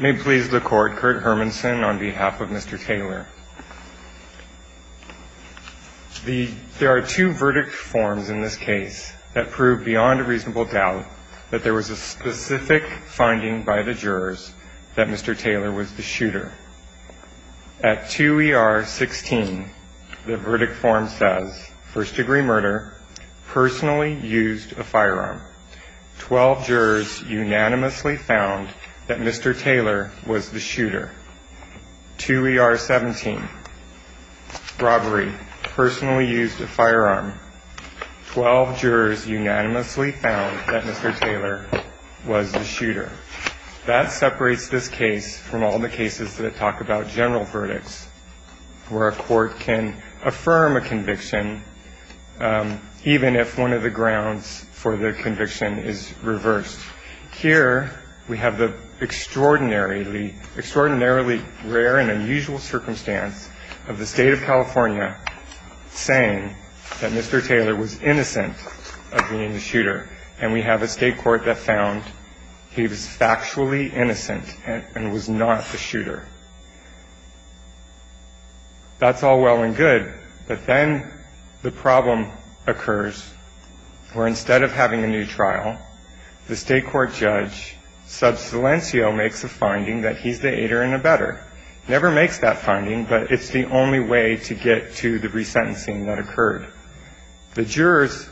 May it please the court, Kurt Hermanson on behalf of Mr. Taylor. There are two verdict forms in this case that prove beyond a reasonable doubt that there was a specific finding by the jurors that Mr. Taylor was the shooter. At 2 ER 16, the verdict form says first degree murder, personally used a firearm. Twelve jurors unanimously found that Mr. Taylor was the shooter. 2 ER 17, robbery, personally used a firearm. Twelve jurors unanimously found that Mr. Taylor was the shooter. That separates this case from all the cases that talk about general verdicts where a court can affirm a conviction even if one of the grounds for the conviction is reversed. Here we have the extraordinarily, extraordinarily rare and unusual circumstance of the state of California saying that Mr. Taylor was innocent of being the shooter. And we have a state court that found he was factually innocent and was not the shooter. That's all well and good. But then the problem occurs where instead of having a new trial, the state court judge sub silencio makes a finding that he's the aider and abetter. Never makes that finding, but it's the only way to get to the resentencing that occurred. The jurors,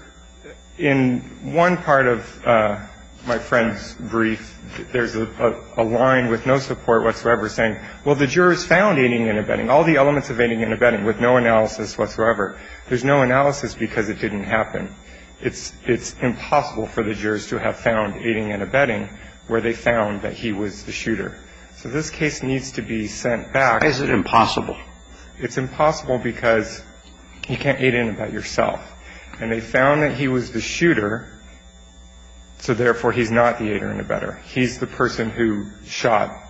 in one part of my friend's brief, there's a line with no support whatsoever saying, well, the jurors found aiding and abetting, all the elements of aiding and abetting with no analysis whatsoever. There's no analysis because it didn't happen. It's impossible for the jurors to have found aiding and abetting where they found that he was the shooter. So this case needs to be sent back. Why is it impossible? It's impossible because you can't aid and abet yourself. And they found that he was the shooter, so therefore he's not the aider and abetter. He's the person who shot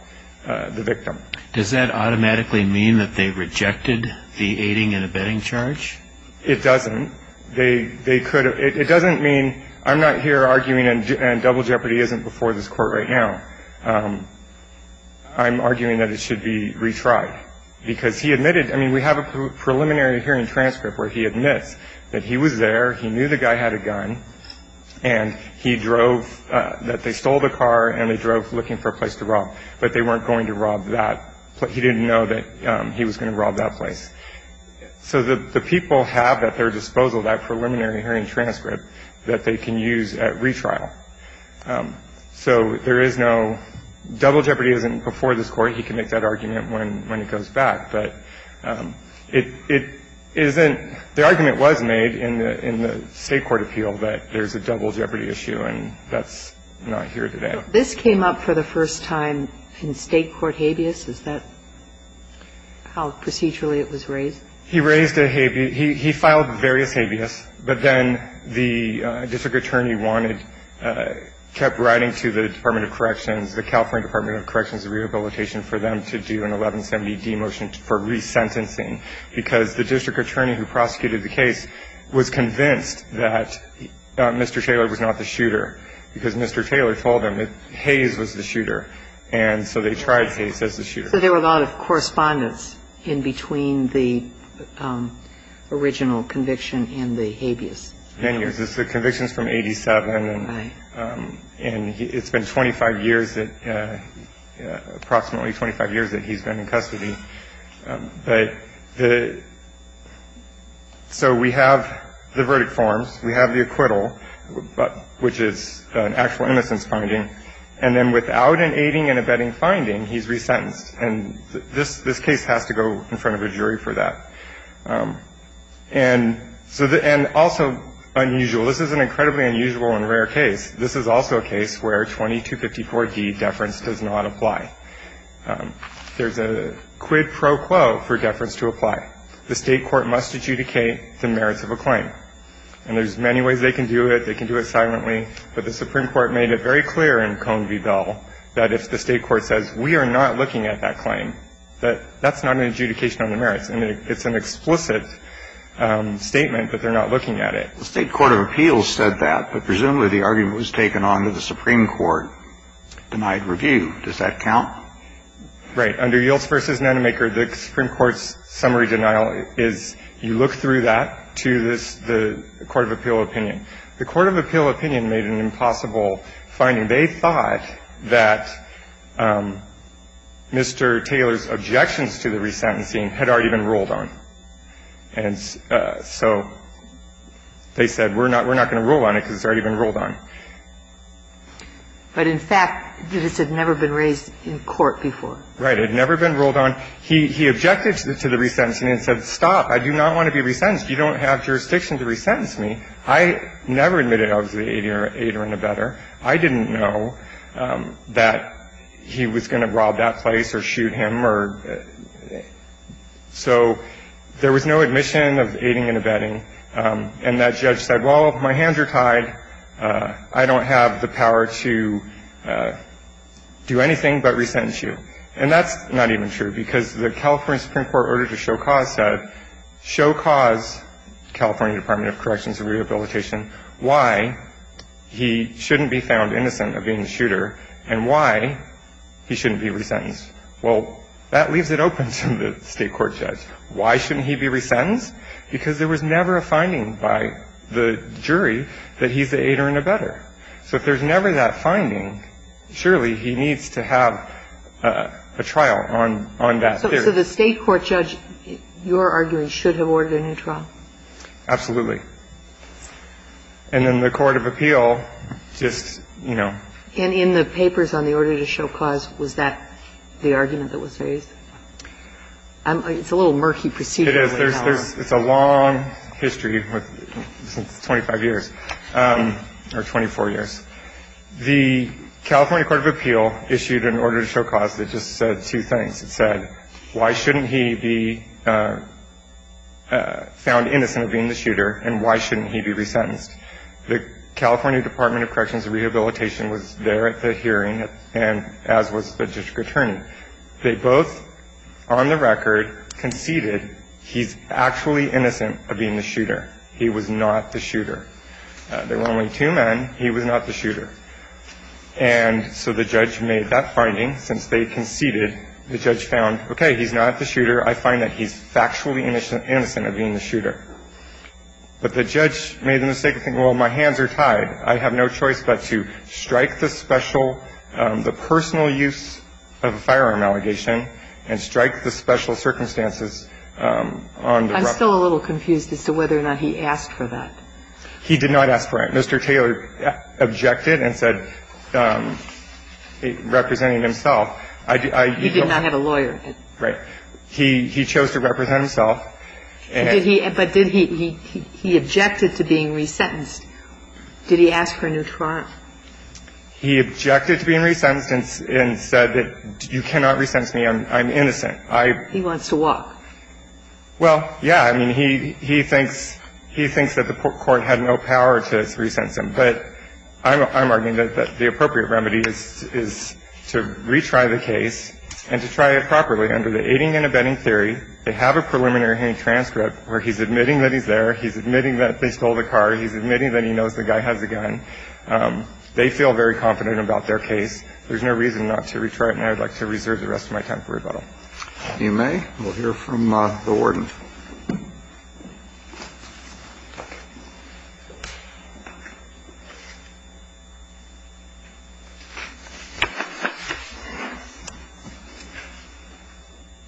the victim. Does that automatically mean that they rejected the aiding and abetting charge? It doesn't. They could have. It doesn't mean I'm not here arguing and double jeopardy isn't before this court right now. I'm arguing that it should be retried because he admitted, I mean, we have a preliminary hearing transcript where he admits that he was there, he knew the guy had a gun, and he drove, that they stole the car and they drove looking for a place to rob. But they weren't going to rob that place. He didn't know that he was going to rob that place. So the people have at their disposal that preliminary hearing transcript that they can use at retrial. So there is no double jeopardy isn't before this court. He can make that argument when it goes back. But it isn't the argument was made in the State court appeal that there's a double jeopardy issue and that's not here today. This came up for the first time in State court habeas. Is that how procedurally it was raised? He raised a habeas. He filed various habeas, but then the district attorney wanted, kept writing to the Department of Corrections, the California Department of Corrections and Rehabilitation for them to do an 1170-D motion for resentencing because the district attorney who prosecuted the case was convinced that Mr. Taylor was not the shooter because Mr. Taylor told him that Hayes was the shooter. So there were a lot of correspondence in between the original conviction and the habeas. Many years. The conviction is from 87 and it's been 25 years, approximately 25 years that he's been in custody. So we have the verdict forms. We have the acquittal, which is an actual innocence finding. And then without an aiding and abetting finding, he's resentenced. And this case has to go in front of a jury for that. And also unusual. This is an incredibly unusual and rare case. This is also a case where 2254-D deference does not apply. There's a quid pro quo for deference to apply. The State court must adjudicate the merits of a claim. And there's many ways they can do it. They can do it silently. But the Supreme Court made it very clear in Cone v. Bell that if the State court says, we are not looking at that claim, that that's not an adjudication on the merits. And it's an explicit statement that they're not looking at it. The State court of appeals said that. But presumably the argument was taken on to the Supreme Court, denied review. Does that count? Right. Under Yields v. Nanomaker, the Supreme Court's summary denial is you look through that to the court of appeal opinion. The court of appeal opinion made an impossible finding. They thought that Mr. Taylor's objections to the resentencing had already been ruled on. And so they said, we're not going to rule on it because it's already been ruled on. But in fact, this had never been raised in court before. Right. It had never been ruled on. He objected to the resentencing and said, stop. I do not want to be resentenced. You don't have jurisdiction to resentence me. I never admitted I was an aider and abetter. I didn't know that he was going to rob that place or shoot him or so there was no admission of aiding and abetting. And that judge said, well, if my hands are tied, I don't have the power to do anything but resentence you. And that's not even true because the California Supreme Court order to show cause said, show cause, California Department of Corrections and Rehabilitation, why he shouldn't be found innocent of being a shooter and why he shouldn't be resentenced. Well, that leaves it open to the State court judge. Why shouldn't he be resentenced? Because there was never a finding by the jury that he's an aider and abetter. So if there's never that finding, surely he needs to have a trial on that theory. So the State court judge, you're arguing, should have ordered a new trial? Absolutely. And then the court of appeal just, you know. And in the papers on the order to show cause, was that the argument that was raised? It's a little murky procedurally. It is. It's a long history, 25 years or 24 years. The California court of appeal issued an order to show cause that just said two things. It said, why shouldn't he be found innocent of being the shooter and why shouldn't he be resentenced? The California Department of Corrections and Rehabilitation was there at the hearing and as was the district attorney. They both, on the record, conceded he's actually innocent of being the shooter. He was not the shooter. There were only two men. He was not the shooter. And so the judge made that finding. Since they conceded, the judge found, okay, he's not the shooter. I find that he's factually innocent of being the shooter. But the judge made the mistake of thinking, well, my hands are tied. I have no choice but to strike the special, the personal use of a firearm allegation and strike the special circumstances on the record. I'm still a little confused as to whether or not he asked for that. He did not ask for it. Mr. Taylor objected and said, representing himself. He did not have a lawyer. Right. He chose to represent himself. But did he, he objected to being resentenced. Did he ask for a new trial? He objected to being resentenced and said that you cannot resent me. I'm innocent. He wants to walk. Well, yeah, I mean, he thinks that the court had no power to resent him. But I'm arguing that the appropriate remedy is to retry the case and to try it properly. Under the aiding and abetting theory, they have a preliminary hearing transcript where he's admitting that he's there. He's admitting that they stole the car. He's admitting that he knows the guy has a gun. They feel very confident about their case. There's no reason not to retry it. And I would like to reserve the rest of my time for rebuttal. If you may, we'll hear from the warden.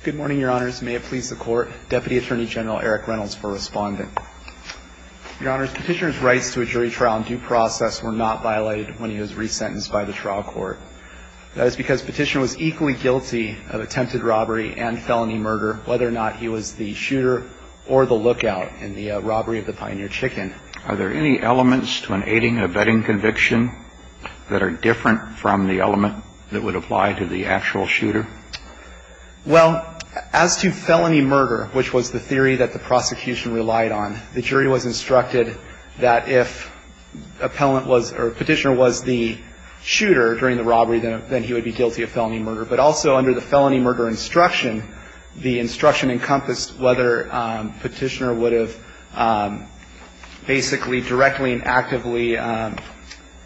Good morning, Your Honors. May it please the Court. Deputy Attorney General Eric Reynolds for Respondent. Your Honors, Petitioner's rights to a jury trial in due process were not violated when he was resentenced by the trial court. That is because Petitioner was equally guilty of attempted robbery and felony murder, whether or not he was the shooter or the lookout in the robbery of the Pioneer Chicken. Are there any elements to an aiding and abetting conviction that are different from the element that would apply to the actual shooter? Well, as to felony murder, which was the theory that the prosecution relied on, the jury was instructed that if appellant was or Petitioner was the shooter during the robbery, then he would be guilty of felony murder. But also under the felony murder instruction, the instruction encompassed whether Petitioner would have basically directly and actively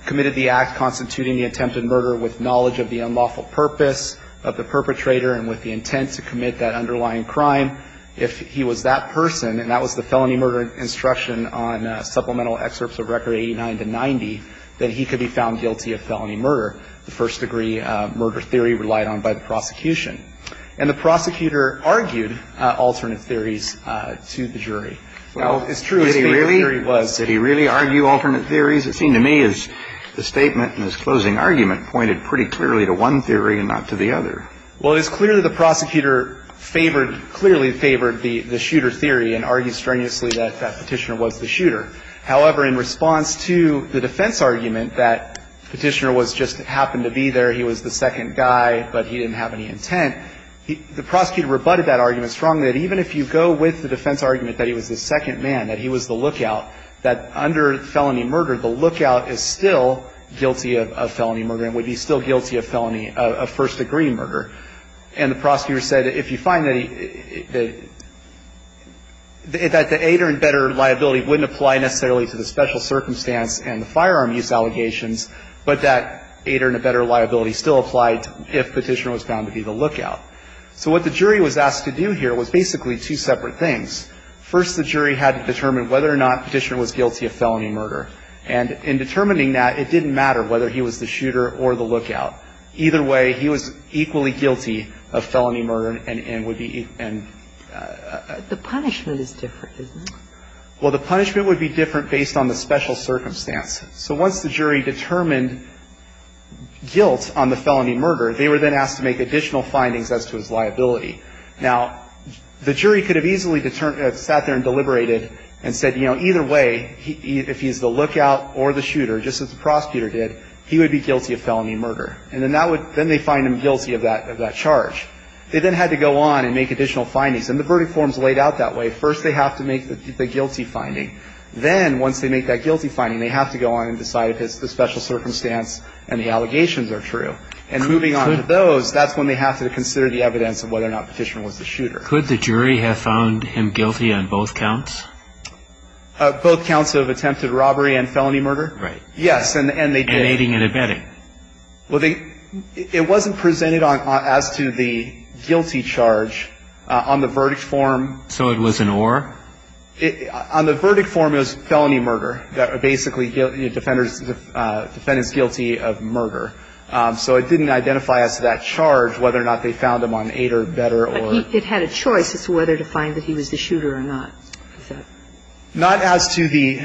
committed the act constituting the attempted murder with knowledge of the unlawful purpose of the perpetrator and with the intent to commit that underlying crime. If he was that person, and that was the felony murder instruction on supplemental excerpts of Record 89 to 90, then he could be found guilty of felony murder, the first-degree murder theory relied on by the prosecution. And the prosecutor argued alternate theories to the jury. Well, it's true. If he really was. Did he really argue alternate theories? It seemed to me as the statement in his closing argument pointed pretty clearly to one theory and not to the other. Well, it's clear that the prosecutor favored, clearly favored the shooter theory and argued strenuously that Petitioner was the shooter. However, in response to the defense argument that Petitioner just happened to be there, he was the second guy, but he didn't have any intent, the prosecutor rebutted that argument strongly that even if you go with the defense argument that he was the second man, that he was the lookout, that under felony murder, the lookout is still guilty of felony murder and would be still guilty of felony, of first-degree murder. And the prosecutor said that if you find that he, that, that the aider and better liability wouldn't apply necessarily to the special circumstance and the firearm use allegations, but that aider and a better liability still applied if Petitioner was found to be the lookout. So what the jury was asked to do here was basically two separate things. First, the jury had to determine whether or not Petitioner was guilty of felony murder. And in determining that, it didn't matter whether he was the shooter or the lookout. Either way, he was equally guilty of felony murder and, and would be, and the punishment is different, isn't it? Well, the punishment would be different based on the special circumstance. So once the jury determined guilt on the felony murder, they were then asked to make additional findings as to his liability. Now, the jury could have easily sat there and deliberated and said, you know, either way, if he's the lookout or the shooter, just as the prosecutor did, he would be guilty of felony murder. And then that would, then they find him guilty of that, of that charge. They then had to go on and make additional findings. And the verdict form's laid out that way. First, they have to make the guilty finding. Then, once they make that guilty finding, they have to go on and decide if it's the special circumstance and the allegations are true. And moving on to those, that's when they have to consider the evidence of whether or not Petitioner was the shooter. Could the jury have found him guilty on both counts? Both counts of attempted robbery and felony murder? Right. Yes, and they did. And aiding and abetting. Well, they, it wasn't presented on, as to the guilty charge. On the verdict form. So it was an or? On the verdict form, it was felony murder. Basically, defendant's guilty of murder. So it didn't identify as to that charge whether or not they found him on aid or better or. But it had a choice as to whether to find that he was the shooter or not. Not as to the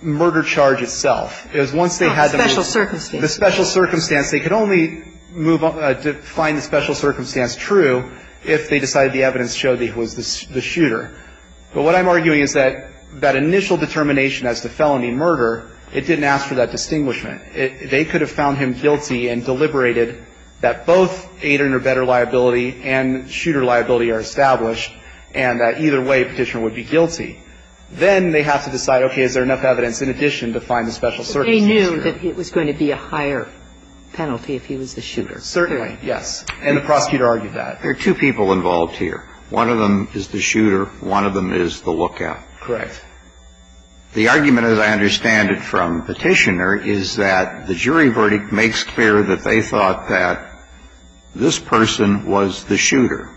murder charge itself. It was once they had the. Special circumstance. The special circumstance. They could only move on to find the special circumstance true if they decided the evidence showed that he was the shooter. But what I'm arguing is that that initial determination as to felony murder, it didn't ask for that distinguishment. They could have found him guilty and deliberated that both aid or better liability and shooter liability are established and that either way Petitioner would be guilty. Then they have to decide, okay, is there enough evidence in addition to find the special circumstance true? So they knew that it was going to be a higher penalty if he was the shooter. Certainly, yes. And the prosecutor argued that. There are two people involved here. One of them is the shooter. One of them is the lookout. Correct. The argument, as I understand it from Petitioner, is that the jury verdict makes clear that they thought that this person was the shooter.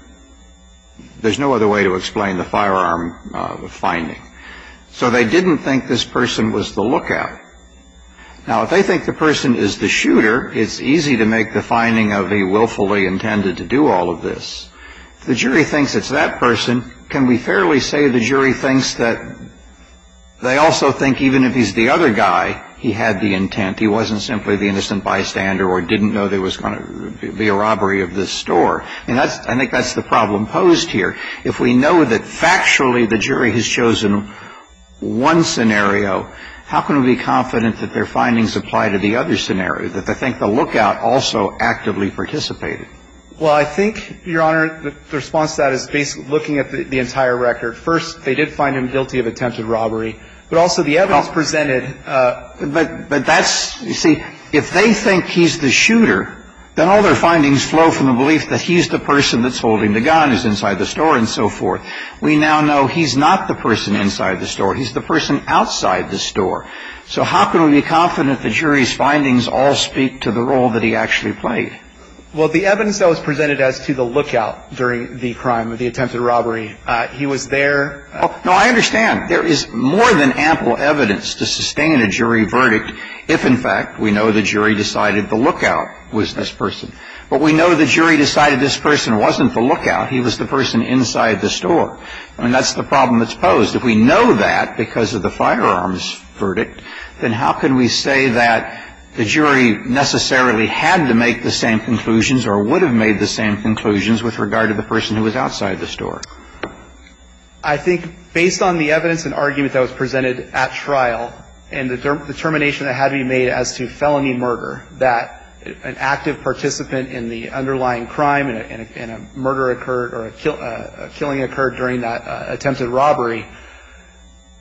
There's no other way to explain the firearm finding. So they didn't think this person was the lookout. Now, if they think the person is the shooter, it's easy to make the finding of he willfully intended to do all of this. If the jury thinks it's that person, can we fairly say the jury thinks that they also think even if he's the other guy, he had the intent, he wasn't simply the innocent bystander or didn't know there was going to be a robbery of this store? I think that's the problem posed here. If we know that factually the jury has chosen one scenario, how can we be confident that their findings apply to the other scenario, that they think the lookout also actively participated? Well, I think, Your Honor, the response to that is basically looking at the entire record. First, they did find him guilty of attempted robbery, but also the evidence presented But that's, you see, if they think he's the shooter, then all their findings flow from the belief that he's the person that's holding the gun, is inside the store, and so forth. We now know he's not the person inside the store. He's the person outside the store. So how can we be confident the jury's findings all speak to the role that he actually played? Well, the evidence that was presented as to the lookout during the crime of the attempted robbery, he was there. No, I understand. There is more than ample evidence to sustain a jury verdict if, in fact, we know the jury decided the lookout was this person. But we know the jury decided this person wasn't the lookout. He was the person inside the store. I mean, that's the problem that's posed. If we know that because of the firearms verdict, then how can we say that the jury necessarily had to make the same conclusions or would have made the same conclusions with regard to the person who was outside the store? I think based on the evidence and argument that was presented at trial and the determination that had to be made as to felony murder, that an active participant in the underlying crime and a murder occurred or a killing occurred during that attempted robbery,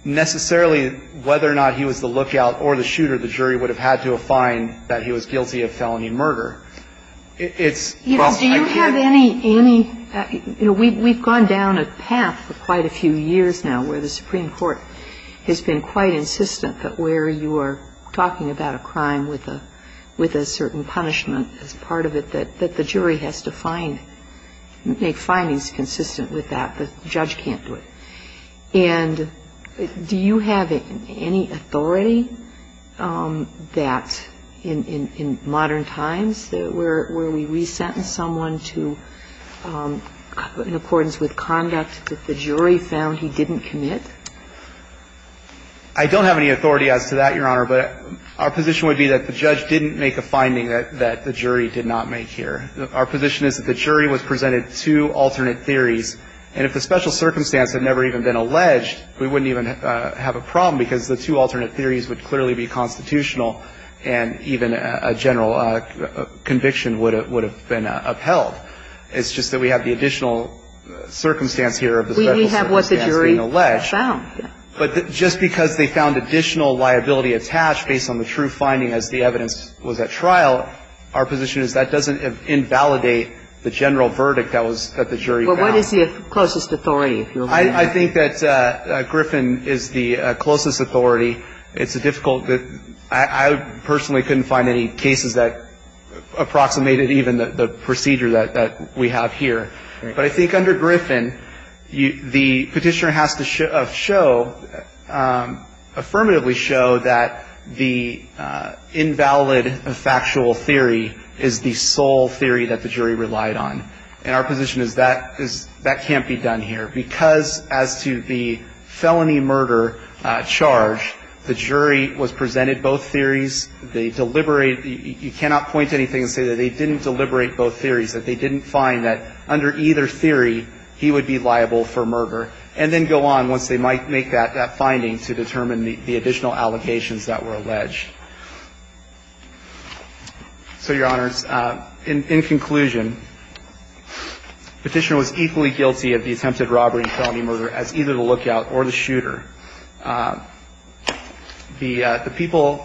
necessarily, whether or not he was the lookout or the shooter, the jury would have had to find that he was guilty of felony murder. It's a problem. Do you have any, you know, we've gone down a path for quite a few years now where the Supreme Court has been quite insistent that where you are talking about a crime with a certain punishment as part of it, that the jury has to find, make findings consistent with that, but the judge can't do it. And do you have any authority that in modern times where we re-sentence someone in accordance with conduct that the jury found he didn't commit? I don't have any authority as to that, Your Honor. But our position would be that the judge didn't make a finding that the jury did not make here. Our position is that the jury was presented two alternate theories. And if the special circumstance had never even been alleged, we wouldn't even have a problem because the two alternate theories would clearly be constitutional and even a general conviction would have been upheld. It's just that we have the additional circumstance here of the special circumstance being alleged. We have what the jury found. But just because they found additional liability attached based on the true finding as the evidence was at trial, our position is that doesn't invalidate the general verdict that the jury found. But what is the closest authority, if you will? I think that Griffin is the closest authority. It's a difficult, I personally couldn't find any cases that approximated even the procedure that we have here. But I think under Griffin, the petitioner has to show, affirmatively show that the invalid factual theory is the sole theory that the jury relied on. And our position is that that can't be done here because as to the felony murder charge, the jury was presented both theories. They deliberated. You cannot point to anything and say that they didn't deliberate both theories, that they didn't find that under either theory he would be liable for murder, and then go on once they make that finding to determine the additional allegations that were alleged. So, Your Honors, in conclusion, the petitioner was equally guilty of the attempted blackout or the shooter. The people,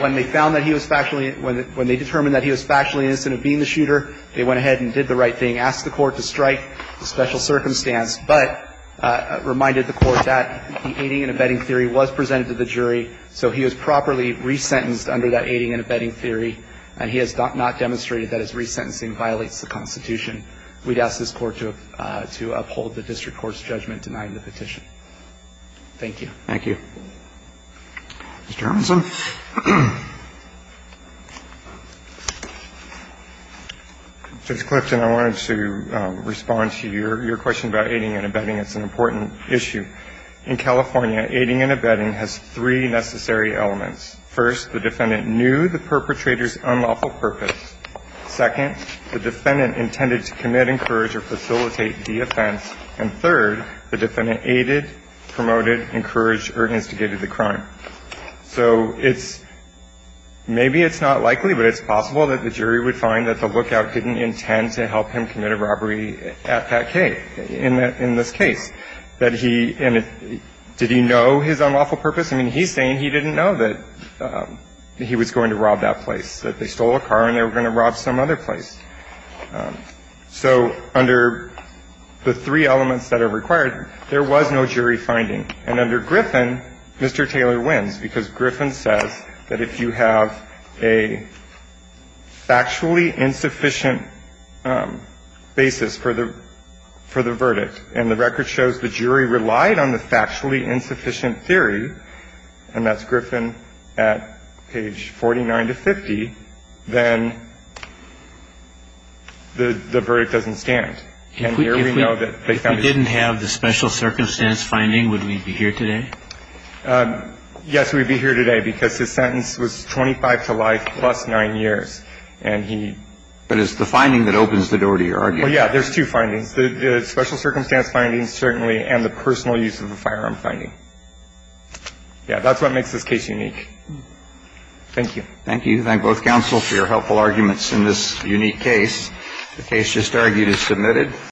when they found that he was factually, when they determined that he was factually innocent of being the shooter, they went ahead and did the right thing, asked the Court to strike the special circumstance, but reminded the Court that the aiding and abetting theory was presented to the jury. So he was properly resentenced under that aiding and abetting theory, and he has not demonstrated that his resentencing violates the Constitution. We'd ask this Court to uphold the district court's judgment denying the petition. Thank you. Thank you. Mr. Armisen. Judge Clifton, I wanted to respond to your question about aiding and abetting. It's an important issue. In California, aiding and abetting has three necessary elements. First, the defendant knew the perpetrator's unlawful purpose. Second, the defendant intended to commit, encourage, or facilitate the offense. And third, the defendant aided, promoted, encouraged, or instigated the crime. So it's – maybe it's not likely, but it's possible that the jury would find that the lookout didn't intend to help him commit a robbery at that case, in this case. That he – and did he know his unlawful purpose? I mean, he's saying he didn't know that he was going to rob that place, that they were going to rob some other place. So under the three elements that are required, there was no jury finding. And under Griffin, Mr. Taylor wins, because Griffin says that if you have a factually insufficient basis for the – for the verdict, and the record shows the jury relied on the factually insufficient theory, and that's Griffin at page 49 to 50, then the verdict doesn't stand. And here we know that they found it. If we didn't have the special circumstance finding, would we be here today? Yes, we'd be here today, because his sentence was 25 to life plus 9 years. And he – But it's the finding that opens the door to your argument. Well, yeah. There's two findings. The special circumstance findings, certainly, and the personal use of the firearm finding. Yeah. That's what makes this case unique. Thank you. Thank you. Thank both counsel for your helpful arguments in this unique case. The case just argued is submitted.